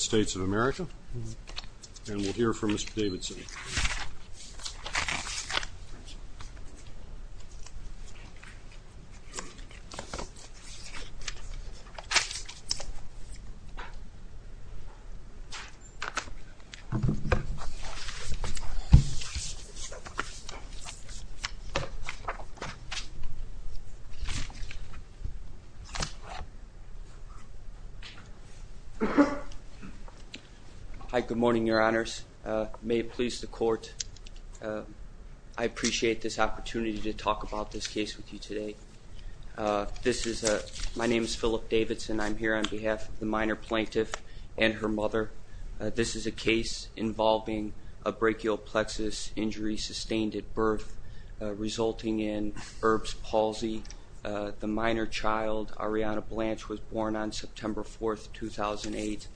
States of America, and we'll hear from Mr. Davidson. Hi, good morning, your honors. May it please the court, I appreciate this opportunity to talk about this case with you today. This is a, my name is Philip Davidson, I'm here on behalf of the minor plaintiff and her mother. This is a case involving a brachial plexus injury sustained at birth, resulting in Erb's palsy. The minor child, Arianna Blanche, was born on April 4th, 2008.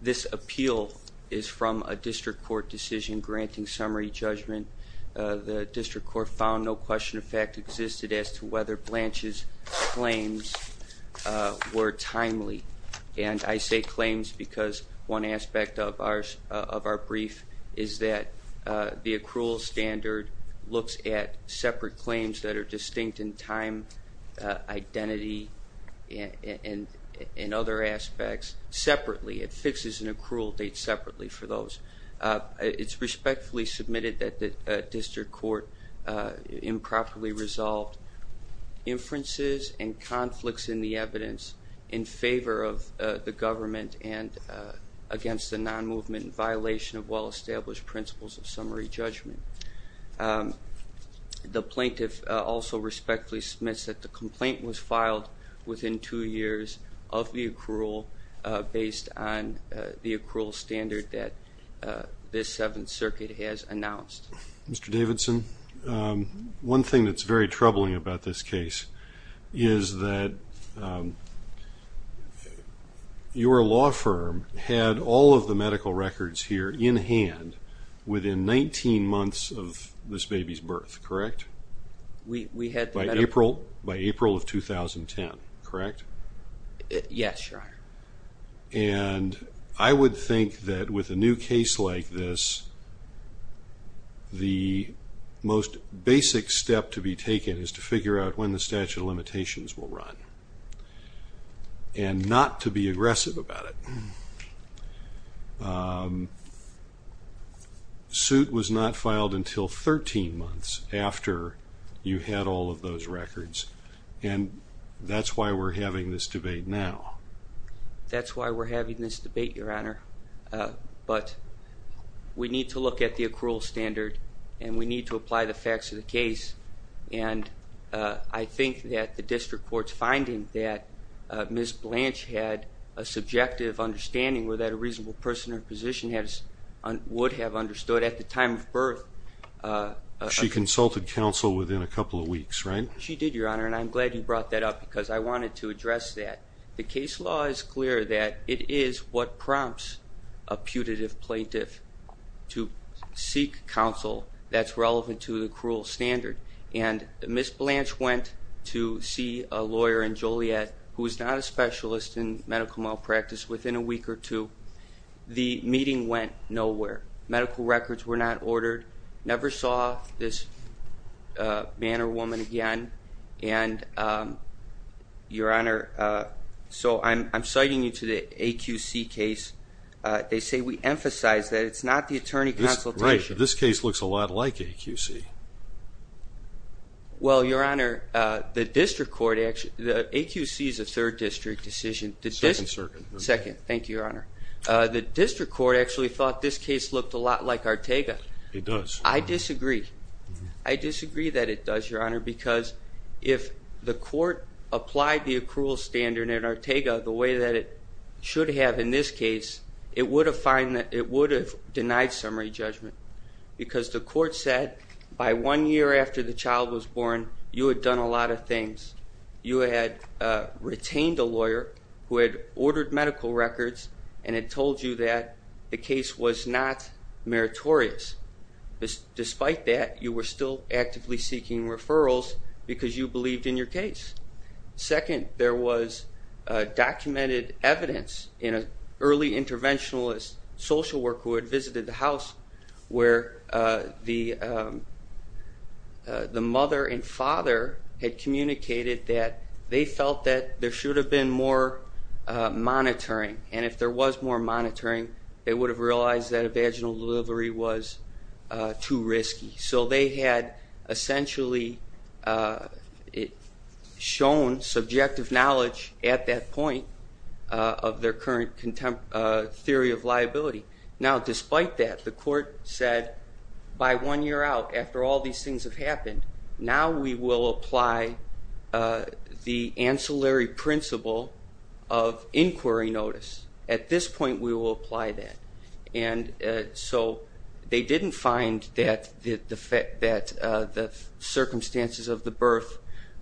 This appeal is from a district court decision granting summary judgment. The district court found no question of fact existed as to whether Blanche's claims were timely. And I say claims because one aspect of our brief is that the accrual standard looks at separate claims that are distinct in time, identity, and other aspects separately. It fixes an accrual date separately for those. It's respectfully submitted that the district court improperly resolved inferences and conflicts in the evidence in favor of the government and against the non-movement violation of well-established principles of summary judgment. The plaintiff also respectfully submits that the complaint was filed within two years of the accrual based on the accrual standard that this Seventh Circuit has announced. Mr. Davidson, one thing that's very troubling about this case is that your law firm had all of the medical records here in hand within 19 months of this baby's birth, correct? We had the medical records. By April of 2010, correct? Yes, Your Honor. And I would think that with a new case like this, the most basic step to be taken is to figure out when the statute of limitations will run and not to be aggressive about it. Suit was not filed until 13 months after you had all of those records, and that's why we're having this debate now. That's why we're having this debate, Your Honor, but we need to look at the accrual standard and we need to apply the facts of the case, and I think that the district court's finding that Ms. Blanche had a subjective understanding where that a reasonable person or position would have understood at the time of birth. She consulted counsel within a couple of weeks, right? She did, Your Honor, and I'm glad you brought that up because I wanted to address that. The case law is clear that it is what prompts a putative plaintiff to seek counsel that's relevant to the accrual standard, and Ms. Blanche went to see a lawyer in Joliet who is not a specialist in medical malpractice within a week or two. The meeting went nowhere. Medical records were not ordered. Never saw this man or woman again, and, Your Honor, so I'm citing you to the AQC case. They say we emphasize that it's not the attorney consultation. Right. This case looks a lot like AQC. Well, Your Honor, the district court actually... AQC is a third district decision. Second circuit. Second. Thank you, Your Honor. The district court actually thought this case looked a lot like Arteaga. It does. I disagree. I disagree that it does, Your Honor, because if the court applied the accrual standard in Arteaga the way that it should have in this case, it would have denied summary judgment because the court said by one year after the child was born, you had done a lot of things. You had retained a lawyer who had ordered medical records and had told you that the case was not meritorious. Despite that, you were still actively seeking referrals because you believed in your case. Second, there was documented evidence in an early interventionalist social worker who where the mother and father had communicated that they felt that there should have been more monitoring, and if there was more monitoring, they would have realized that a vaginal delivery was too risky. They had essentially shown subjective knowledge at that point of their current theory of liability. Now, despite that, the court said by one year out, after all these things have happened, now we will apply the ancillary principle of inquiry notice. At this point, we will apply that. So they didn't find that the circumstances of the birth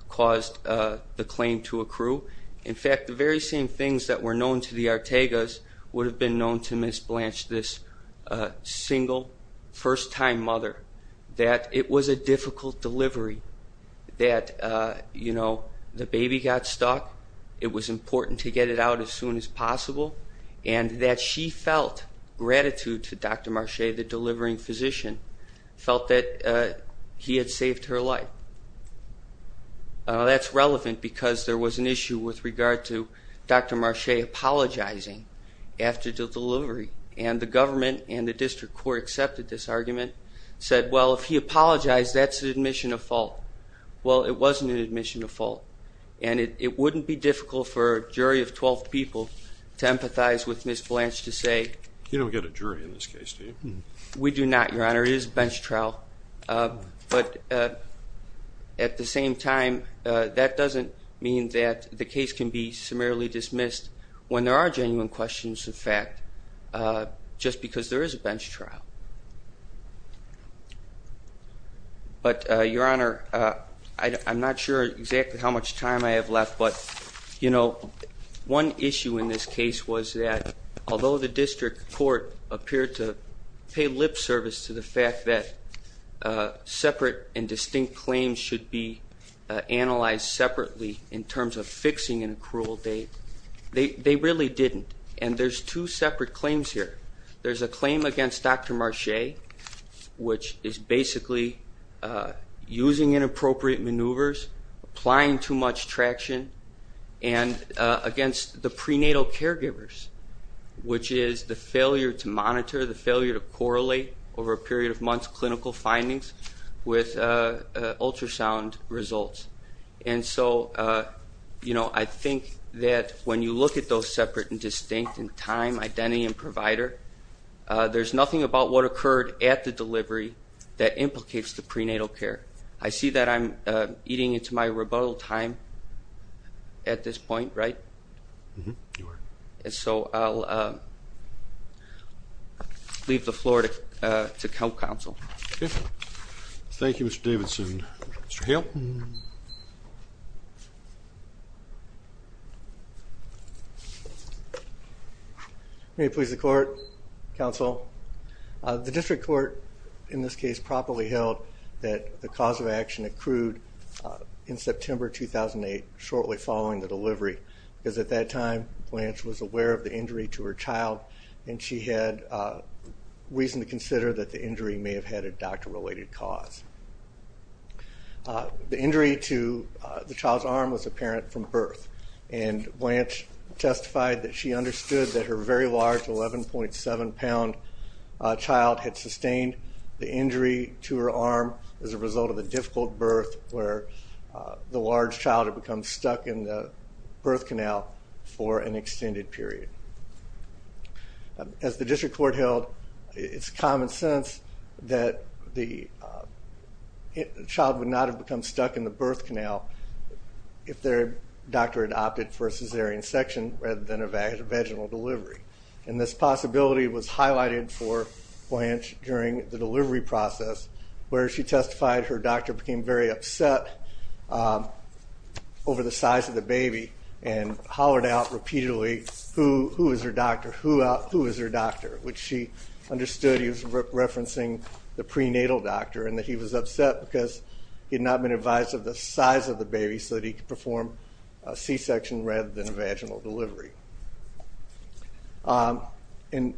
caused the claim to accrue. In fact, the very same things that were known to the Ortegas would have been known to Ms. Blanche, this single, first-time mother, that it was a difficult delivery, that the baby got stuck, it was important to get it out as soon as possible, and that she felt gratitude to Dr. Marche, the delivering physician, felt that he had saved her life. Now, that's relevant because there was an issue with regard to Dr. Marche apologizing after the delivery, and the government and the district court accepted this argument, said, well, if he apologized, that's an admission of fault. Well, it wasn't an admission of fault, and it wouldn't be difficult for a jury of 12 people to empathize with Ms. Blanche to say... You don't get a jury in this case, do you? We do not, Your Honor. There is a bench trial, but at the same time, that doesn't mean that the case can be summarily dismissed when there are genuine questions of fact, just because there is a bench trial. But Your Honor, I'm not sure exactly how much time I have left, but one issue in this case was that although the district court appeared to pay lip service to the fact that separate and distinct claims should be analyzed separately in terms of fixing an accrual date, they really didn't, and there's two separate claims here. There's a claim against Dr. Marche, which is basically using inappropriate maneuvers, applying too much traction, and against the prenatal caregivers, which is the failure to monitor, the failure to correlate over a period of months clinical findings with ultrasound results. And so, you know, I think that when you look at those separate and distinct in time, identity, and provider, there's nothing about what occurred at the delivery that implicates the prenatal care. I see that I'm eating into my rebuttal time at this point, right? Mm-hmm. You are. And so, I'll leave the floor to counsel. Thank you, Mr. Davidson. Mr. Hale? May it please the court, counsel, the district court in this case properly held that the cause of action accrued in September 2008, shortly following the delivery, because at that time, Blanche was aware of the injury to her child, and she had reason to consider that the injury may have had a doctor-related cause. The injury to the child's arm was apparent from birth, and Blanche testified that she understood that her very large 11.7-pound child had sustained the injury to her arm as a result of the difficult birth where the large child had become stuck in the birth canal for an extended period. As the district court held, it's common sense that the child would not have become stuck in the birth canal if their doctor had opted for a cesarean section rather than a vaginal delivery, and this possibility was highlighted for Blanche during the delivery process where she testified her doctor became very upset over the size of the baby and hollered out repeatedly, who is her doctor, who is her doctor, which she understood he was referencing the prenatal doctor and that he was upset because he had not been advised of the size of the baby so that he could perform a c-section rather than a vaginal delivery. And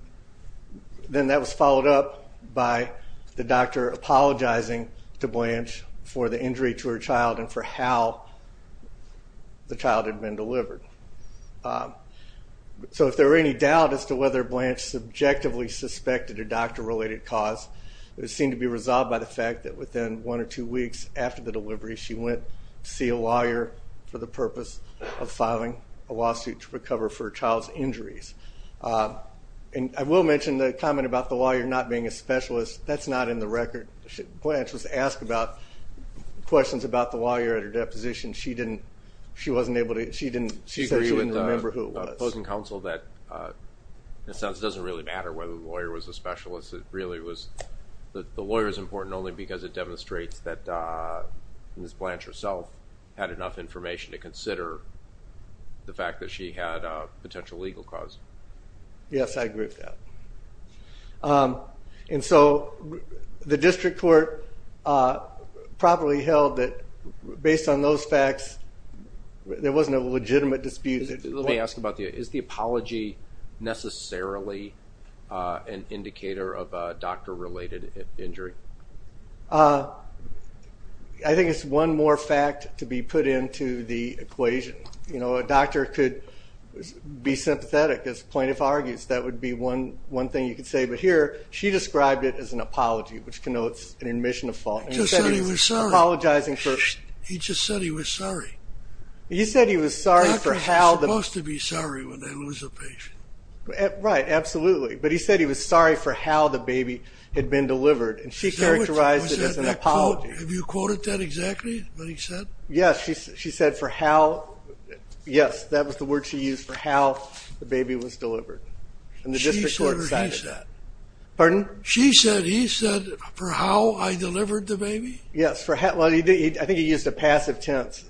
then that was followed up by the doctor apologizing to Blanche for the injury to her child and for how the child had been delivered. So if there were any doubt as to whether Blanche subjectively suspected a doctor-related cause, it would seem to be resolved by the fact that within one or two weeks after the delivery she went to see a lawyer for the purpose of filing a lawsuit to recover for her child's injuries. And I will mention the comment about the lawyer not being a specialist. That's not in the record. Blanche was asked about questions about the lawyer at her deposition. She didn't, she wasn't able to, she didn't, she said she didn't remember who it was. I agree with opposing counsel that it doesn't really matter whether the lawyer was a specialist. It really was, the lawyer is important only because it demonstrates that Ms. Blanche herself had enough information to consider the fact that she had a potential legal cause. Yes I agree with that. And so the district court probably held that based on those facts there wasn't a legitimate dispute. Let me ask about the, is the apology necessarily an indicator of a doctor-related injury? I think it's one more fact to be put into the equation. You know a doctor could be sympathetic as a plaintiff argues, that would be one thing you could say, but here she described it as an apology which connotes an admission of fault. He just said he was sorry. He just said he was sorry. Doctors are supposed to be sorry when they lose a patient. Right, absolutely. But he said he was sorry for how the baby had been delivered and she characterized it as an apology. Was that a quote? Have you quoted that exactly? What he said? Yes. She said for how, yes that was the word she used for how the baby was delivered and the district court cited that. She said or he said? Pardon? She said, he said for how I delivered the baby? Yes. For how, I think he used a passive tense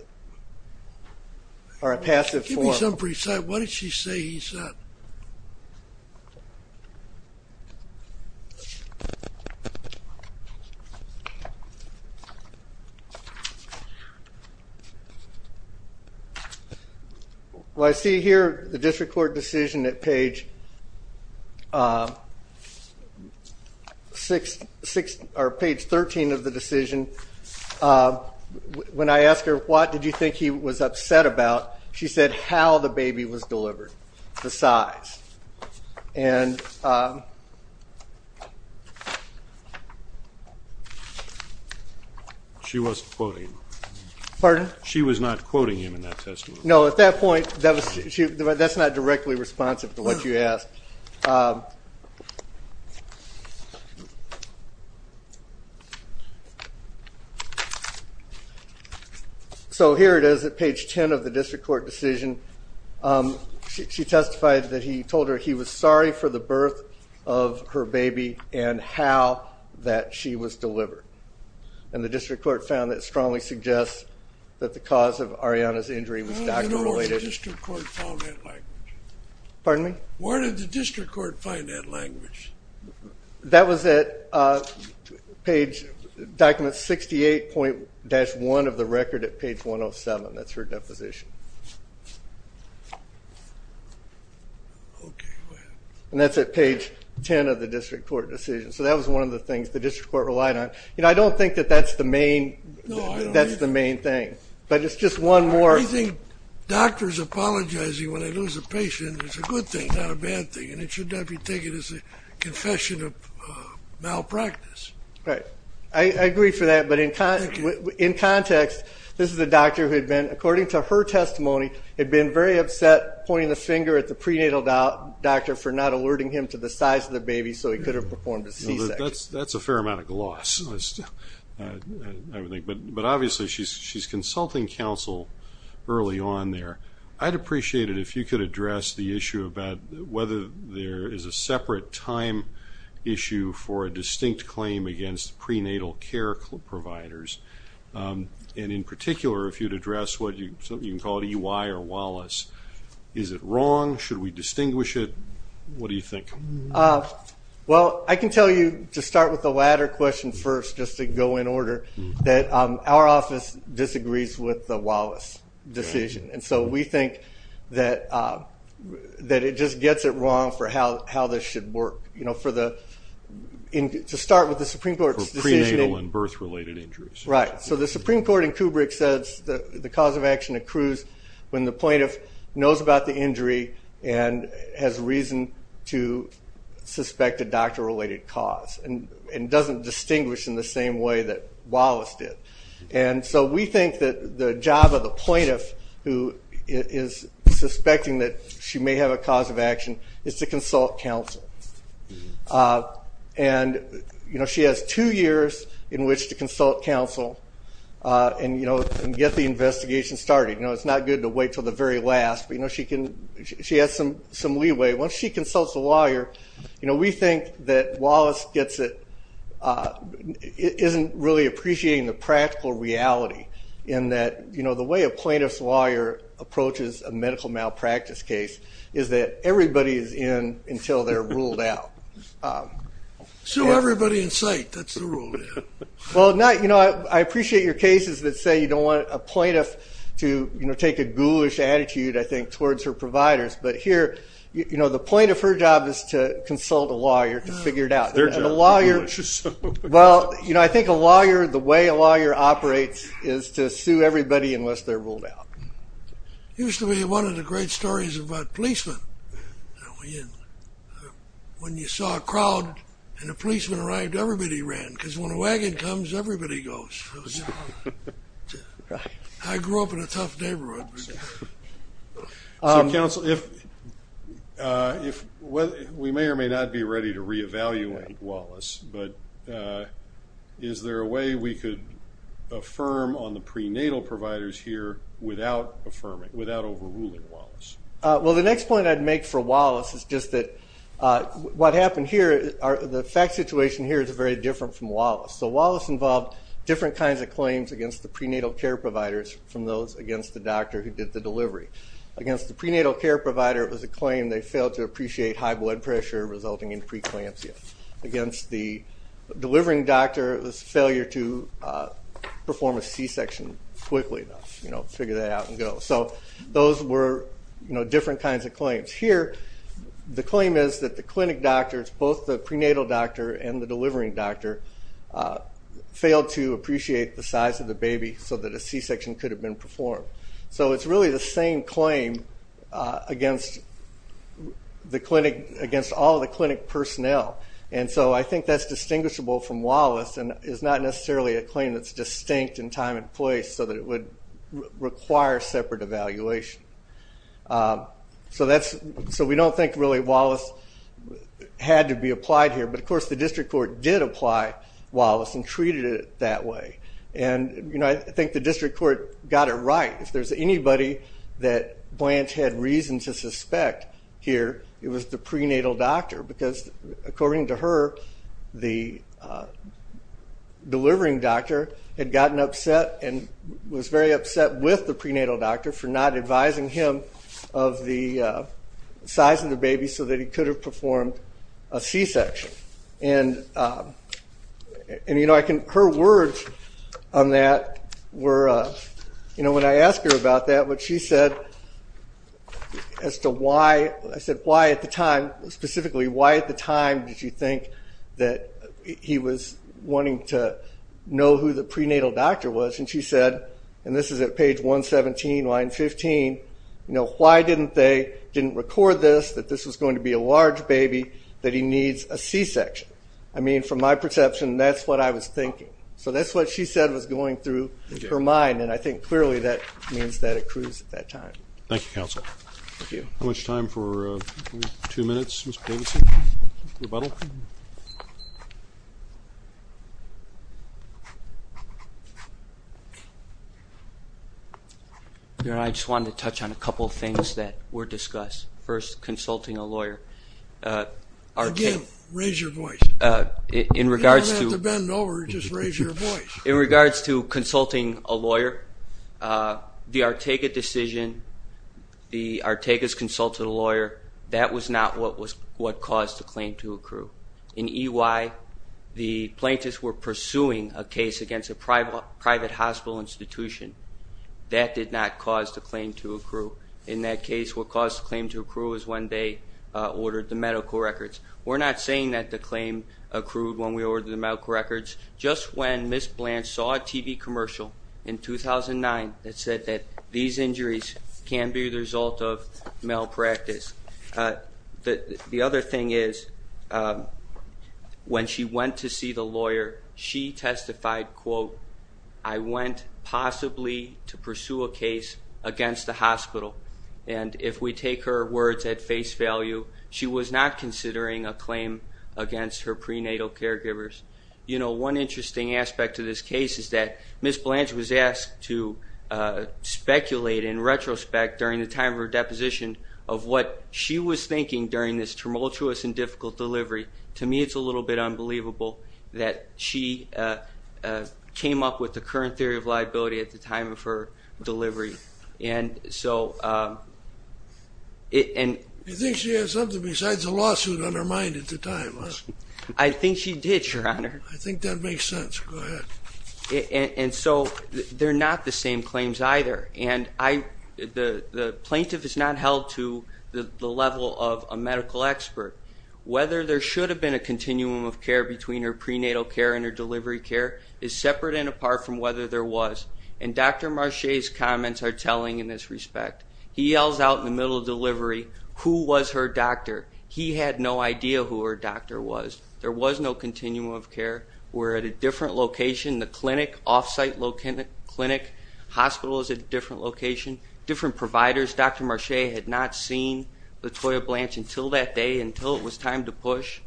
or a passive form. Give me some briefs. What did she say he said? Well, I see here the district court decision at page six or page 13 of the decision. When I asked her what did you think he was upset about, she said how the baby was delivered, the size. And she wasn't quoting him. Pardon? She was not quoting him in that testimony. No, at that point, that's not directly responsive to what you asked. Okay. So here it is at page 10 of the district court decision. She testified that he told her he was sorry for the birth of her baby and how that she was delivered. And the district court found that strongly suggests that the cause of Ariana's injury was doctor related. You know what the district court found it like? Pardon me? Where did the district court find that language? That was at page, document 68.1 of the record at page 107. That's her deposition. Okay. And that's at page 10 of the district court decision. So that was one of the things the district court relied on. You know, I don't think that that's the main thing. But it's just one more. I think doctors apologizing when they lose a patient is a good thing, not a bad thing. And it should not be taken as a confession of malpractice. Right. I agree for that. But in context, this is a doctor who had been, according to her testimony, had been very upset pointing the finger at the prenatal doctor for not alerting him to the size of the baby so he could have performed a C-section. That's a fair amount of gloss. I would think. But obviously, she's consulting counsel early on there. I'd appreciate it if you could address the issue about whether there is a separate time issue for a distinct claim against prenatal care providers, and in particular, if you'd address what you, something you can call it EY or Wallace. Is it wrong? Should we distinguish it? What do you think? Well, I can tell you to start with the latter question first, just to go in order, that our office disagrees with the Wallace decision. And so we think that it just gets it wrong for how this should work, you know, for the, to start with the Supreme Court's decision. For prenatal and birth-related injuries. Right. So the Supreme Court in Kubrick says that the cause of action accrues when the plaintiff knows about the injury and has reason to suspect a doctor-related cause, and doesn't distinguish in the same way that Wallace did. And so we think that the job of the plaintiff who is suspecting that she may have a cause of action is to consult counsel. And you know, she has two years in which to consult counsel and, you know, and get the investigation started. You know, it's not good to wait till the very last, but, you know, she can, she has some leeway. Once she consults a lawyer, you know, we think that Wallace gets it, isn't really appreciating the practical reality in that, you know, the way a plaintiff's lawyer approaches a medical malpractice case is that everybody is in until they're ruled out. So everybody in sight, that's the rule. Well, not, you know, I appreciate your cases that say you don't want a plaintiff to, you know, take a ghoulish attitude, I think, towards her providers. But here, you know, the plaintiff, her job is to consult a lawyer to figure it out. And a lawyer, well, you know, I think a lawyer, the way a lawyer operates is to sue everybody unless they're ruled out. Used to be one of the great stories about policemen. When you saw a crowd and a policeman arrived, everybody ran, because when a wagon comes, everybody goes. I grew up in a tough neighborhood. So, counsel, if, we may or may not be ready to reevaluate Wallace, but is there a way we could affirm on the prenatal providers here without affirming, without overruling Wallace? Well, the next point I'd make for Wallace is just that what happened here, the fact situation here is very different from Wallace. So Wallace involved different kinds of claims against the prenatal care providers from those against the doctor who did the delivery. Against the prenatal care provider, it was a claim they failed to appreciate high blood pressure resulting in preeclampsia. Against the delivering doctor, it was a failure to perform a C-section quickly enough, you know, figure that out and go. So those were, you know, different kinds of claims. Here, the claim is that the clinic doctors, both the prenatal doctor and the delivering doctor, failed to appreciate the size of the baby so that a C-section could have been performed. So it's really the same claim against the clinic, against all the clinic personnel. And so I think that's distinguishable from Wallace and is not necessarily a claim that's separate evaluation. So that's, so we don't think really Wallace had to be applied here, but of course the district court did apply Wallace and treated it that way. And you know, I think the district court got it right. If there's anybody that Blanche had reason to suspect here, it was the prenatal doctor because according to her, the delivering doctor had gotten upset and was very upset with the prenatal doctor for not advising him of the size of the baby so that he could have performed a C-section. And, you know, I can, her words on that were, you know, when I asked her about that, what she said as to why, I said why at the time, specifically why at the time did you think that he was wanting to know who the prenatal doctor was, and she said, and this is at page 117, line 15, you know, why didn't they, didn't record this, that this was going to be a large baby, that he needs a C-section. I mean, from my perception, that's what I was thinking. So that's what she said was going through her mind, and I think clearly that means that accrues at that time. Thank you, counsel. Thank you. How much time for two minutes, Mr. Davidson, rebuttal? I just wanted to touch on a couple of things that were discussed. First, consulting a lawyer, again, raise your voice. In regards to, you don't have to bend over, just raise your voice. In regards to consulting a lawyer, the Ortega decision, the Ortega's consult to the lawyer, that was not what caused the claim to accrue. In EY, the plaintiffs were pursuing a case against a private hospital institution. That did not cause the claim to accrue. In that case, what caused the claim to accrue is when they ordered the medical records. We're not saying that the claim accrued when we ordered the medical records. Just when Ms. Blanche saw a TV commercial in 2009 that said that these injuries can be the result of malpractice. The other thing is, when she went to see the lawyer, she testified, quote, I went possibly to pursue a case against the hospital. And if we take her words at face value, she was not considering a claim against her prenatal caregivers. You know, one interesting aspect of this case is that Ms. Blanche was asked to speculate in retrospect during the time of her deposition of what she was thinking during this tumultuous and difficult delivery. To me, it's a little bit unbelievable that she came up with the current theory of liability at the time of her delivery. And so, and... You think she had something besides a lawsuit on her mind at the time, huh? I think she did, Your Honor. I think that makes sense. Go ahead. And so, they're not the same claims either. And the plaintiff is not held to the level of a medical expert. Whether there should have been a continuum of care between her prenatal care and her delivery care is separate and apart from whether there was. And Dr. Marche's comments are telling in this respect. He yells out in the middle of delivery, who was her doctor? He had no idea who her doctor was. There was no continuum of care. We're at a different location. The clinic, off-site clinic, hospital is at a different location. Different providers. Dr. Marche had not seen LaToya Blanche until that day, until it was time to push.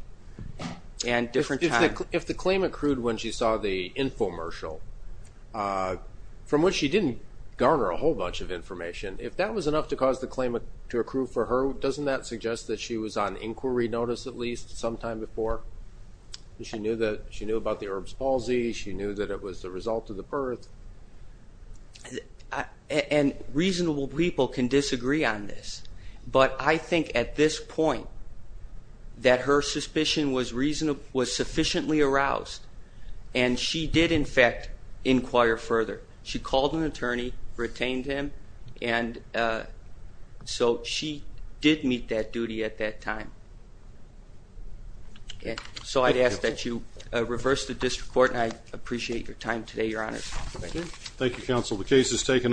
And different time. If the claim accrued when she saw the infomercial, from which she didn't garner a whole bunch of information, if that was enough to cause the claim to accrue for her, doesn't that mean she was on inquiry notice at least sometime before? She knew about the Erb's palsy. She knew that it was the result of the birth. And reasonable people can disagree on this. But I think at this point, that her suspicion was sufficiently aroused. And she did, in fact, inquire further. She called an attorney, retained him. And so she did meet that duty at that time. So I'd ask that you reverse the district court, and I appreciate your time today, Your Honor. Thank you, counsel. The case is taken.